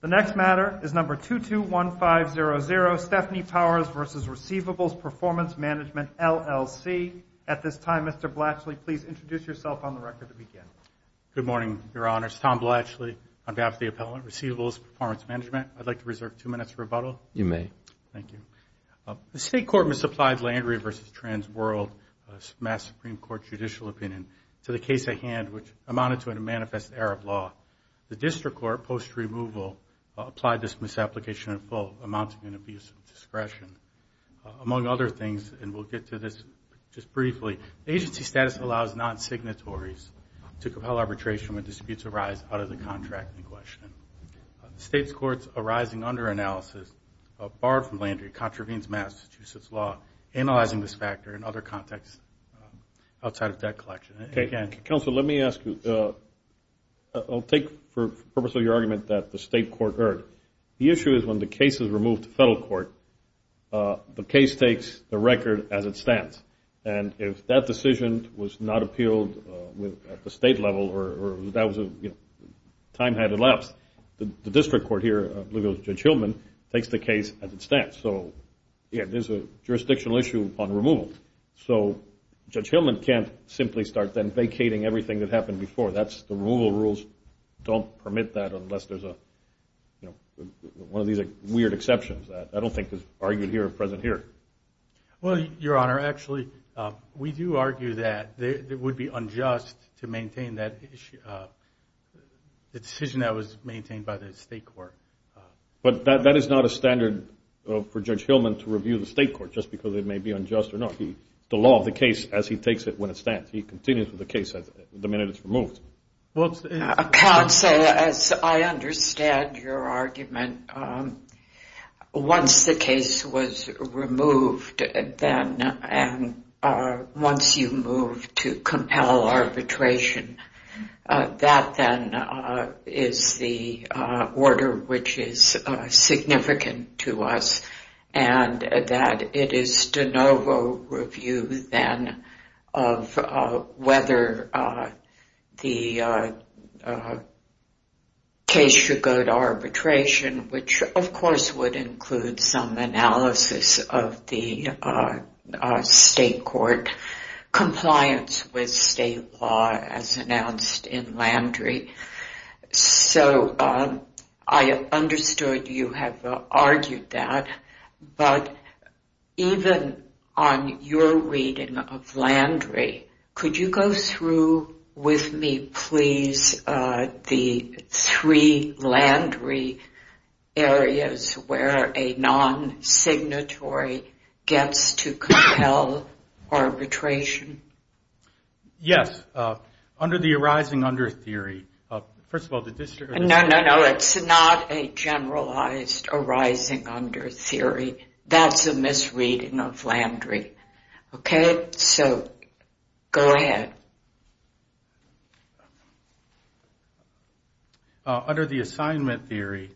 The next matter is number 221500, Stephanie Powers v. Receivables Performance Management, LLC. At this time, Mr. Blatchley, please introduce yourself on the record to begin. Good morning, Your Honors. Tom Blatchley on behalf of the appellant, Receivables Performance Management. I'd like to reserve two minutes for rebuttal. You may. Thank you. The State Court misapplied Landry v. Trans World, Mass. Supreme Court Judicial Opinion, to the case at hand which amounted to a manifest error of law. The District Court, post-removal, applied this misapplication in full, amounting to an abuse of discretion. Among other things, and we'll get to this just briefly, agency status allows non-signatories to compel arbitration when disputes arise out of the contract in question. The State's courts arising under analysis, barred from Landry, contravenes Massachusetts law, analyzing this factor in other contexts outside of debt collection. Counsel, let me ask you. I'll take, for the purpose of your argument, that the State Court heard. The issue is when the case is removed to federal court, the case takes the record as it stands. And if that decision was not appealed at the state level or that was a time had elapsed, the District Court here, I believe it was Judge Hillman, takes the case as it stands. So, yeah, there's a jurisdictional issue on removal. So Judge Hillman can't simply start then vacating everything that happened before. The removal rules don't permit that unless there's a, you know, one of these weird exceptions. I don't think it's argued here or present here. Well, Your Honor, actually, we do argue that it would be unjust to maintain that issue, the decision that was maintained by the State Court. But that is not a standard for Judge Hillman to review the State Court just because it may be unjust or not. The law of the case, as he takes it, when it stands. He continues with the case the minute it's removed. Counsel, as I understand your argument, once the case was removed, then once you move to compel arbitration, that then is the order which is significant to us and that it is de novo review then of whether the case should go to arbitration, which of course would include some analysis of the State Court compliance with state law as announced in Landry. So I understood you have argued that. But even on your reading of Landry, could you go through with me, please, the three Landry areas where a non-signatory gets to compel arbitration? Yes. Under the arising under theory. First of all, the district. No, no, no. It's not a generalized arising under theory. That's a misreading of Landry. Okay? So go ahead. Under the assignment theory,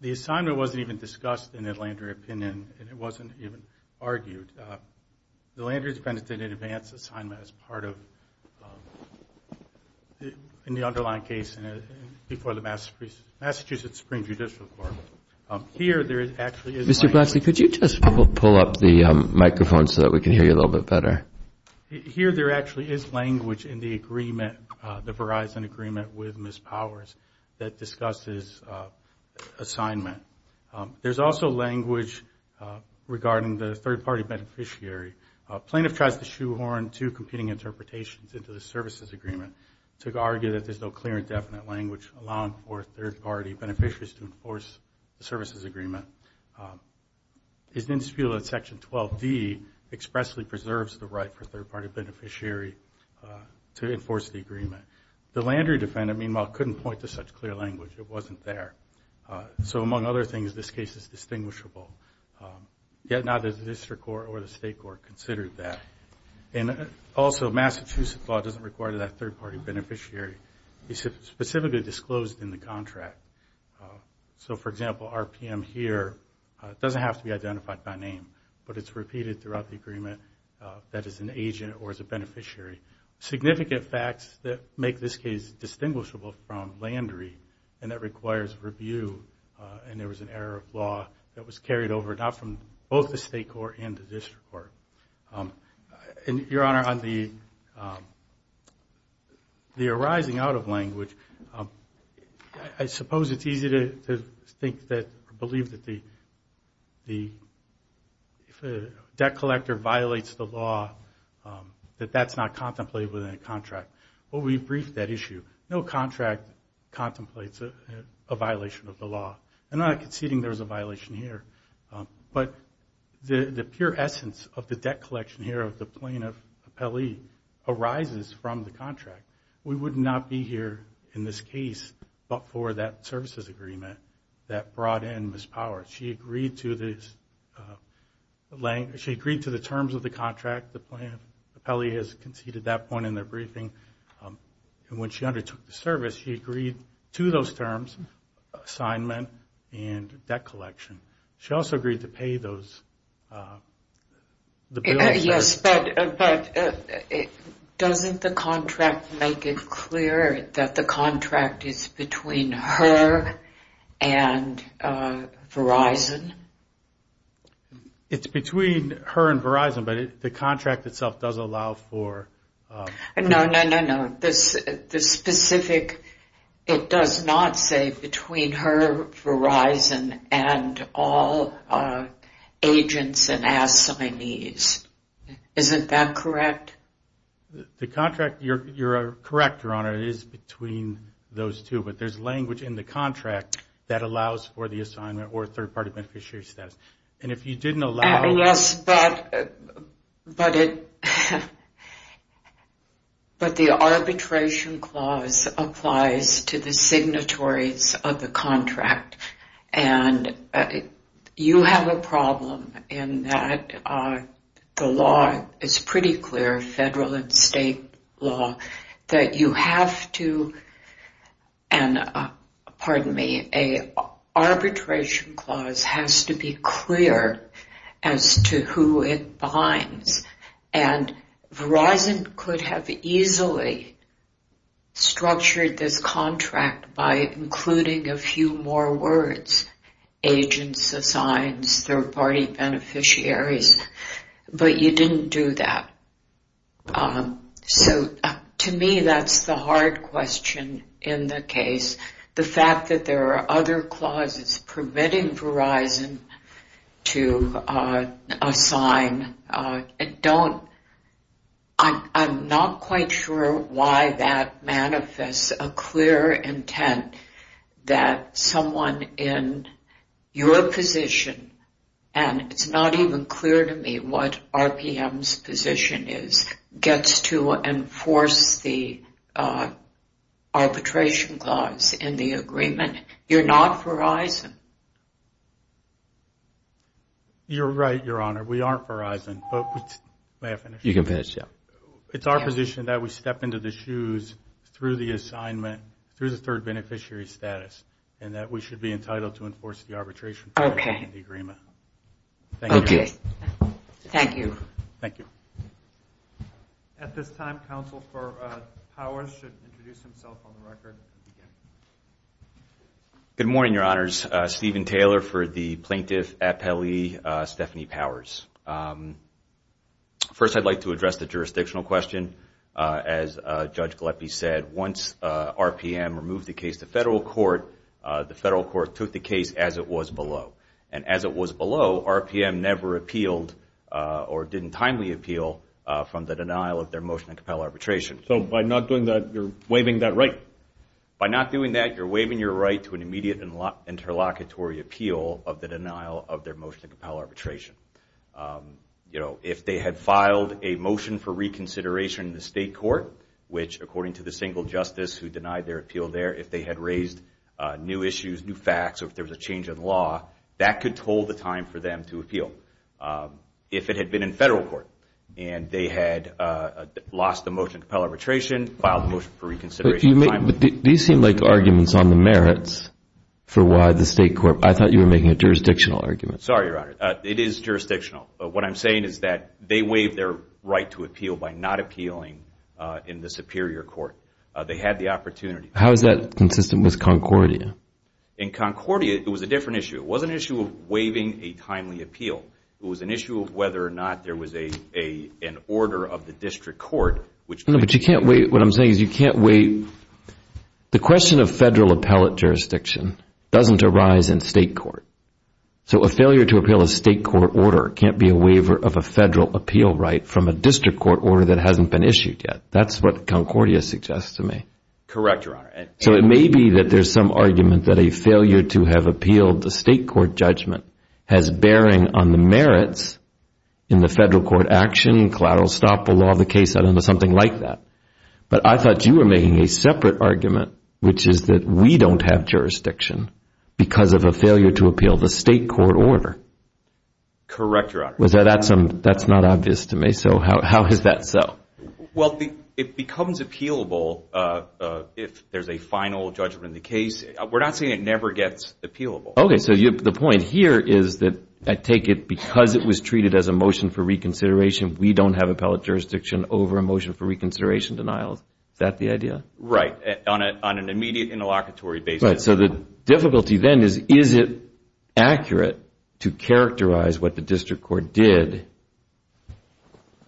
the assignment wasn't even discussed in the Landry opinion. It wasn't even argued. The Landry is penitent in advance assignment as part of the underlying case before the Massachusetts Supreme Judicial Court. Here there actually is language. Mr. Blacksley, could you just pull up the microphone so that we can hear you a little bit better? Here there actually is language in the agreement, the Verizon agreement with Ms. Powers that discusses assignment. There's also language regarding the third-party beneficiary. Plaintiff tries to shoehorn two competing interpretations into the services agreement to argue that there's no clear and definite language allowing for third-party beneficiaries to enforce the services agreement. His indisputable section 12D expressly preserves the right for third-party beneficiary to enforce the agreement. The Landry defendant, meanwhile, couldn't point to such clear language. It wasn't there. So among other things, this case is distinguishable. Yet neither the district court or the state court considered that. And also, Massachusetts law doesn't require that third-party beneficiary be specifically disclosed in the contract. So, for example, RPM here doesn't have to be identified by name, but it's repeated throughout the agreement that it's an agent or it's a beneficiary. Significant facts that make this case distinguishable from Landry and that requires review, and there was an error of law that was carried over not from both the state court and the district court. And, Your Honor, on the arising out of language, I suppose it's easy to think that or believe that the debt collector violates the law, that that's not contemplated within a contract. Well, we briefed that issue. No contract contemplates a violation of the law. I'm not conceding there's a violation here, but the pure essence of the debt collection here of the plaintiff appellee arises from the contract. We would not be here in this case but for that services agreement that brought in Miss Power. She agreed to the terms of the contract. The plaintiff appellee has conceded that point in their briefing. And when she undertook the service, she agreed to those terms, assignment and debt collection. She also agreed to pay those. Yes, but doesn't the contract make it clear that the contract is between her and Verizon? It's between her and Verizon, but the contract itself does allow for... No, no, no, no. The specific, it does not say between her, Verizon and all agents and assignees. Isn't that correct? The contract, you're correct, Your Honor, it is between those two. But there's language in the contract that allows for the assignment or third-party beneficiary status. And if you didn't allow... Yes, but the arbitration clause applies to the signatories of the contract. And you have a problem in that the law is pretty clear, federal and state law, that you have to... And Verizon could have easily structured this contract by including a few more words, agents, assigns, third-party beneficiaries, but you didn't do that. So to me, that's the hard question in the case. The fact that there are other clauses permitting Verizon to assign, I'm not quite sure why that manifests a clear intent that someone in your position, and it's not even clear to me what RPM's position is, gets to enforce the arbitration clause in the agreement. You're not Verizon. You're right, Your Honor. We aren't Verizon. May I finish? You can finish, yeah. It's our position that we step into the shoes through the assignment, through the third beneficiary status, and that we should be entitled to enforce the arbitration clause in the agreement. Okay. Thank you. Thank you. At this time, Counsel for Powers should introduce himself on the record. Good morning, Your Honors. Steven Taylor for the Plaintiff Appellee, Stephanie Powers. First, I'd like to address the jurisdictional question. As Judge Galeppi said, once RPM removed the case to federal court, the federal court took the case as it was below. And as it was below, RPM never appealed or didn't timely appeal from the denial of their motion to compel arbitration. So by not doing that, you're waiving that right? By not doing that, you're waiving your right to an immediate interlocutory appeal of the denial of their motion to compel arbitration. You know, if they had filed a motion for reconsideration in the state court, which according to the single justice who denied their appeal there, if they had raised new issues, new facts, or if there was a change in law, that could hold the time for them to appeal. If it had been in federal court and they had lost the motion to compel arbitration, filed the motion for reconsideration timely. These seem like arguments on the merits for why the state court, I thought you were making a jurisdictional argument. Sorry, Your Honor. It is jurisdictional. What I'm saying is that they waived their right to appeal by not appealing in the superior court. They had the opportunity. How is that consistent with Concordia? In Concordia, it was a different issue. It wasn't an issue of waiving a timely appeal. It was an issue of whether or not there was an order of the district court. No, but you can't waive. What I'm saying is you can't waive. The question of federal appellate jurisdiction doesn't arise in state court. So a failure to appeal a state court order can't be a waiver of a federal appeal right from a district court order that hasn't been issued yet. That's what Concordia suggests to me. Correct, Your Honor. So it may be that there's some argument that a failure to have appealed the state court judgment has bearing on the merits in the federal court action, collateral stop, the law of the case, something like that. But I thought you were making a separate argument, which is that we don't have jurisdiction because of a failure to appeal the state court order. Correct, Your Honor. That's not obvious to me. So how is that so? Well, it becomes appealable if there's a final judgment in the case. We're not saying it never gets appealable. Okay, so the point here is that I take it because it was treated as a motion for reconsideration, we don't have appellate jurisdiction over a motion for reconsideration denial. Is that the idea? Right, on an immediate interlocutory basis. Right, so the difficulty then is, is it accurate to characterize what the district court did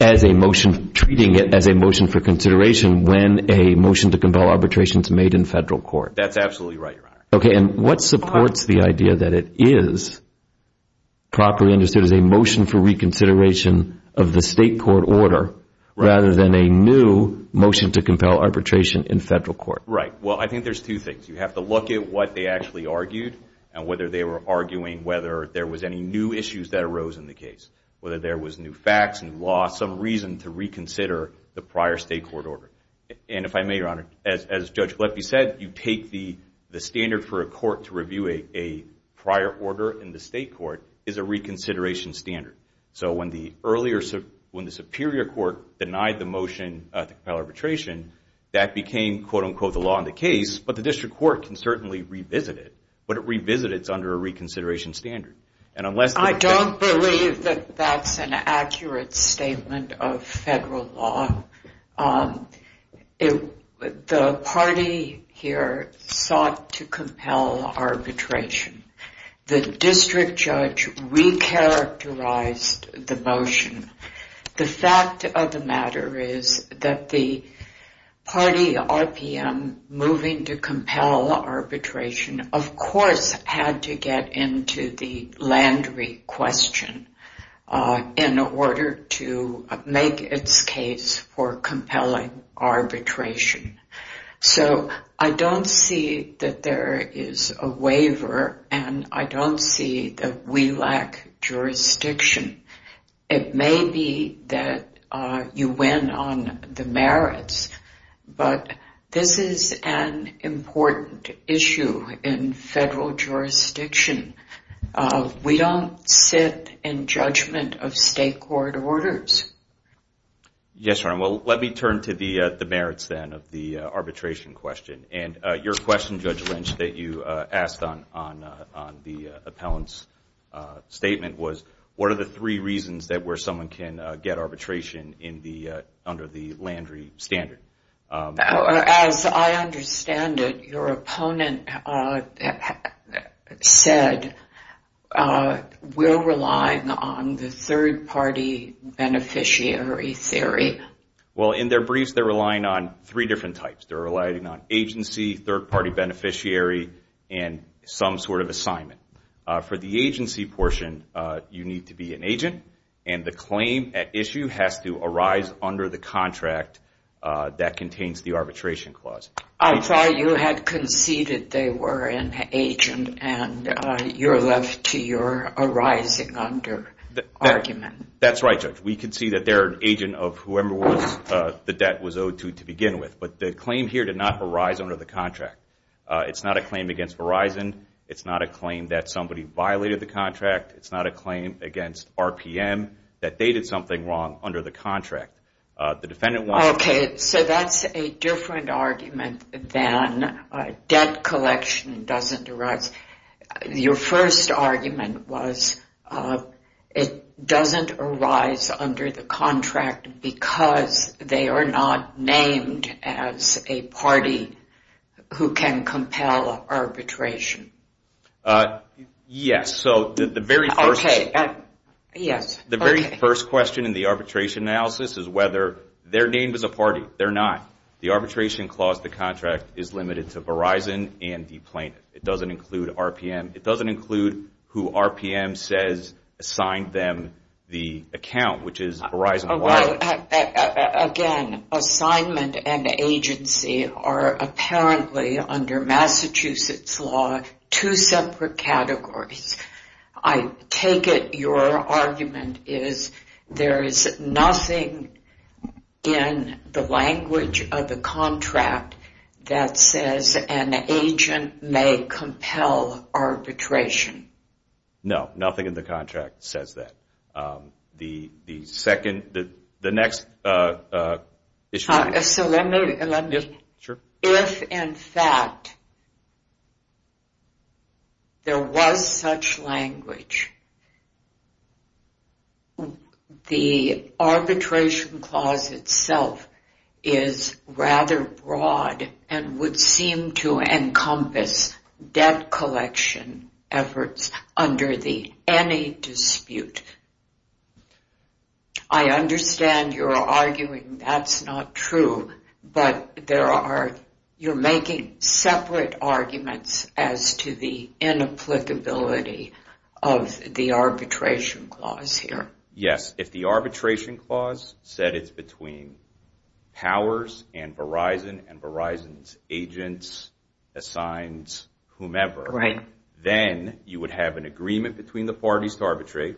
as a motion, treating it as a motion for consideration when a motion to compel arbitration is made in federal court? That's absolutely right, Your Honor. Okay, and what supports the idea that it is properly understood as a motion for reconsideration of the state court order rather than a new motion to compel arbitration in federal court? Right, well, I think there's two things. You have to look at what they actually argued and whether they were arguing whether there was any new issues that arose in the case, whether there was new facts, new law, some reason to reconsider the prior state court order. And if I may, Your Honor, as Judge Galeffi said, you take the standard for a court to review a prior order in the state court is a reconsideration standard. So when the superior court denied the motion to compel arbitration, that became, quote unquote, the law in the case. But the district court can certainly revisit it, but it revisits under a reconsideration standard. I don't believe that that's an accurate statement of federal law. The party here sought to compel arbitration. The district judge recharacterized the motion. The fact of the matter is that the party, RPM, moving to compel arbitration, of course had to get into the Landry question in order to make its case for compelling arbitration. So I don't see that there is a waiver, and I don't see that we lack jurisdiction. It may be that you win on the merits, but this is an important issue in federal jurisdiction. We don't sit in judgment of state court orders. Yes, Your Honor. Well, let me turn to the merits then of the arbitration question. And your question, Judge Lynch, that you asked on the appellant's statement was, what are the three reasons that where someone can get arbitration under the Landry standard? As I understand it, your opponent said, we're relying on the third-party beneficiary theory. Well, in their briefs, they're relying on three different types. They're relying on agency, third-party beneficiary, and some sort of assignment. For the agency portion, you need to be an agent, and the claim at issue has to arise under the contract that contains the arbitration clause. I thought you had conceded they were an agent, and you're left to your arising under argument. That's right, Judge. We concede that they're an agent of whoever the debt was owed to to begin with. But the claim here did not arise under the contract. It's not a claim against Verizon. It's not a claim that somebody violated the contract. It's not a claim against RPM that they did something wrong under the contract. Okay, so that's a different argument than debt collection doesn't arise. Your first argument was it doesn't arise under the contract because they are not named as a party who can compel arbitration. Yes, so the very first question in the arbitration analysis is whether they're named as a party. They're not. The arbitration clause of the contract is limited to Verizon and dPlanet. It doesn't include RPM. assigned them the account, which is Verizon. Again, assignment and agency are apparently under Massachusetts law two separate categories. I take it your argument is there is nothing in the language of the contract that says an agent may compel arbitration. No, nothing in the contract says that. The second, the next issue. So let me, if in fact there was such language, the arbitration clause itself is rather broad and would seem to encompass debt collection efforts under the any dispute. I understand you're arguing that's not true, but you're making separate arguments as to the inapplicability of the arbitration clause here. Yes, if the arbitration clause said it's between powers and Verizon and Verizon's agents assigns whomever, then you would have an agreement between the parties to arbitrate.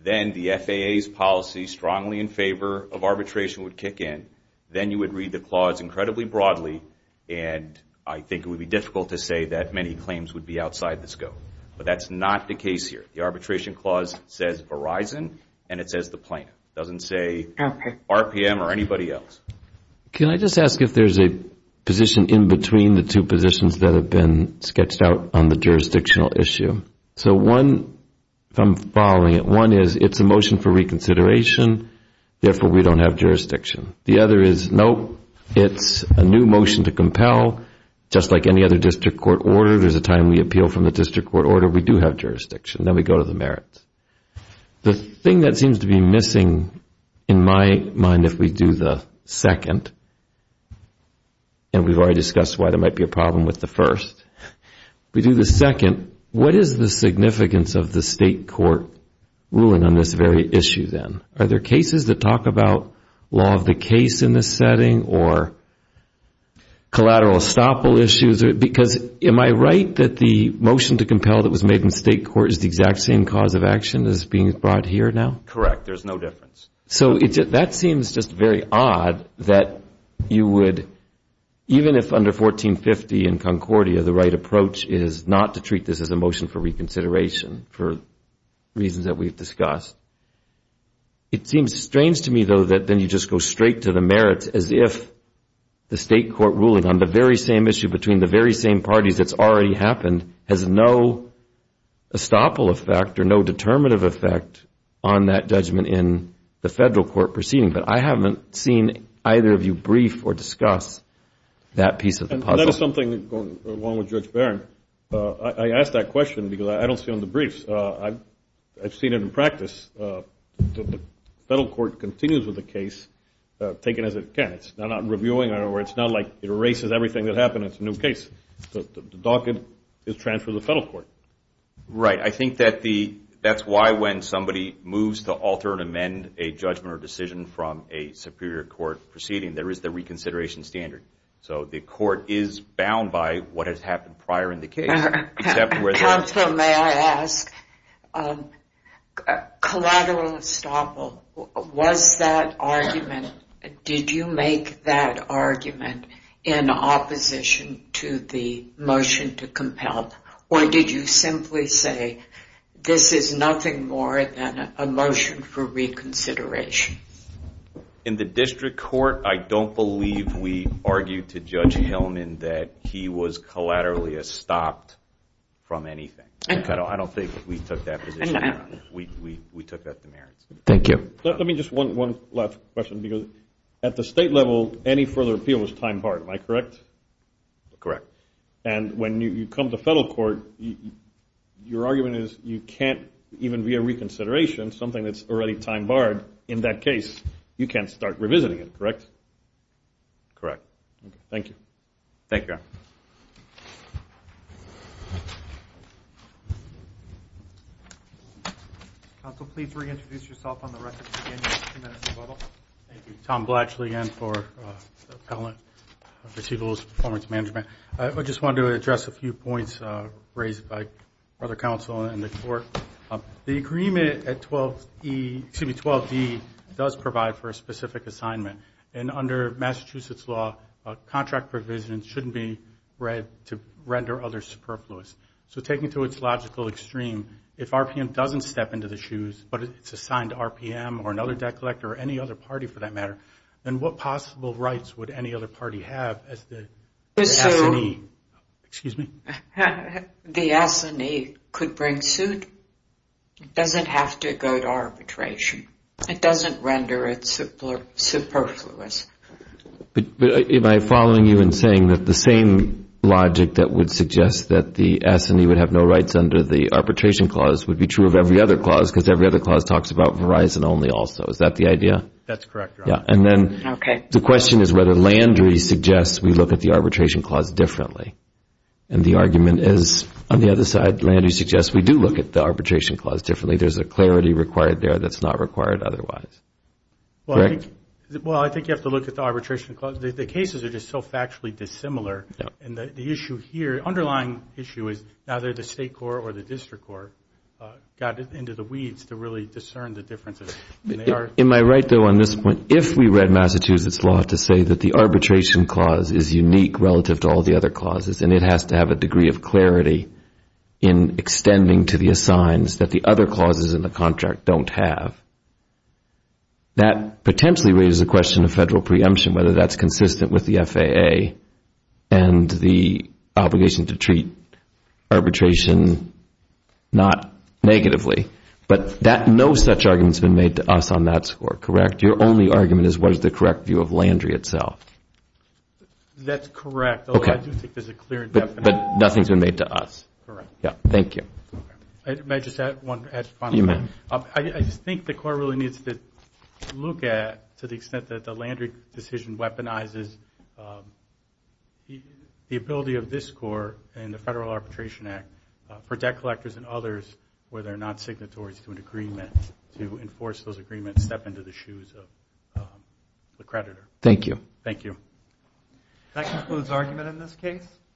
Then the FAA's policy strongly in favor of arbitration would kick in. Then you would read the clause incredibly broadly, and I think it would be difficult to say that many claims would be outside the scope. But that's not the case here. The arbitration clause says Verizon, and it says the plaintiff. It doesn't say RPM or anybody else. Can I just ask if there's a position in between the two positions that have been sketched out on the jurisdictional issue? So one, if I'm following it, one is it's a motion for reconsideration, therefore we don't have jurisdiction. The other is, nope, it's a new motion to compel, just like any other district court order. There's a time we appeal from the district court order. We do have jurisdiction. Then we go to the merits. The thing that seems to be missing in my mind if we do the second, and we've already discussed why there might be a problem with the first. If we do the second, what is the significance of the state court ruling on this very issue then? Are there cases that talk about law of the case in this setting or collateral estoppel issues? Because am I right that the motion to compel that was made in state court is the exact same cause of action as being brought here now? Correct. There's no difference. So that seems just very odd that you would, even if under 1450 in Concordia, the right approach is not to treat this as a motion for reconsideration for reasons that we've discussed. It seems strange to me, though, that then you just go straight to the merits as if the state court ruling on the very same issue between the very same parties that's already happened has no estoppel effect or no determinative effect on that judgment in the federal court proceeding. But I haven't seen either of you brief or discuss that piece of the puzzle. That is something, along with Judge Barron, I ask that question because I don't see it on the briefs. I've seen it in practice. The federal court continues with the case taken as it can. It's not reviewing it or it's not like it erases everything that happened. It's a new case. The docket is transferred to the federal court. Right. I think that's why when somebody moves to alter and amend a judgment or decision from a superior court proceeding, there is the reconsideration standard. So the court is bound by what has happened prior in the case. Counsel, may I ask, collateral estoppel, was that argument, did you make that argument in opposition to the motion to compel or did you simply say this is nothing more than a motion for reconsideration? In the district court, I don't believe we argued to Judge Hillman that he was collaterally estopped from anything. I don't think we took that position. We took that to merits. Thank you. Let me just one last question because at the state level, any further appeal is time barred. Am I correct? Correct. And when you come to federal court, your argument is you can't even be a reconsideration, something that's already time barred, in that case, you can't start revisiting it, correct? Correct. Thank you. Thank you, Your Honor. Counsel, please reintroduce yourself on the record. Thank you. Tom Blatchley again for Appellant for Chief of Law Enforcement Management. I just wanted to address a few points raised by other counsel in the court. The agreement at 12E, excuse me, 12D does provide for a specific assignment, and under Massachusetts law, a contract provision shouldn't be read to render others superfluous. So taking it to its logical extreme, if RPM doesn't step into the shoes, but it's assigned to RPM or another debt collector or any other party for that matter, then what possible rights would any other party have as the assignee? Excuse me? The assignee could bring suit. It doesn't have to go to arbitration. It doesn't render it superfluous. Am I following you in saying that the same logic that would suggest that the assignee would have no rights under the arbitration clause would be true of every other clause, because every other clause talks about Verizon only also. Is that the idea? That's correct, Your Honor. The question is whether Landry suggests we look at the arbitration clause differently. And the argument is, on the other side, Landry suggests we do look at the arbitration clause differently. There's a clarity required there that's not required otherwise. Well, I think you have to look at the arbitration clause. The cases are just so factually dissimilar. And the underlying issue is either the state court or the district court got into the weeds to really discern the differences. Am I right, though, on this point? If we read Massachusetts law to say that the arbitration clause is unique relative to all the other clauses and it has to have a degree of clarity in extending to the assigns that the other clauses in the contract don't have, that potentially raises the question of federal preemption, whether that's consistent with the FAA and the obligation to treat arbitration not negatively. But no such argument has been made to us on that score, correct? Your only argument is what is the correct view of Landry itself? That's correct. Okay. I do think there's a clear definition. But nothing's been made to us. Correct. Yeah. Thank you. May I just add one final thing? You may. I just think the Court really needs to look at, to the extent that the Landry decision weaponizes the ability of this Court and the Federal Arbitration Act for debt collectors and others where they're not signatories to an agreement, to enforce those agreements, step into the shoes of the creditor. Thank you. Thank you. That concludes argument in this case.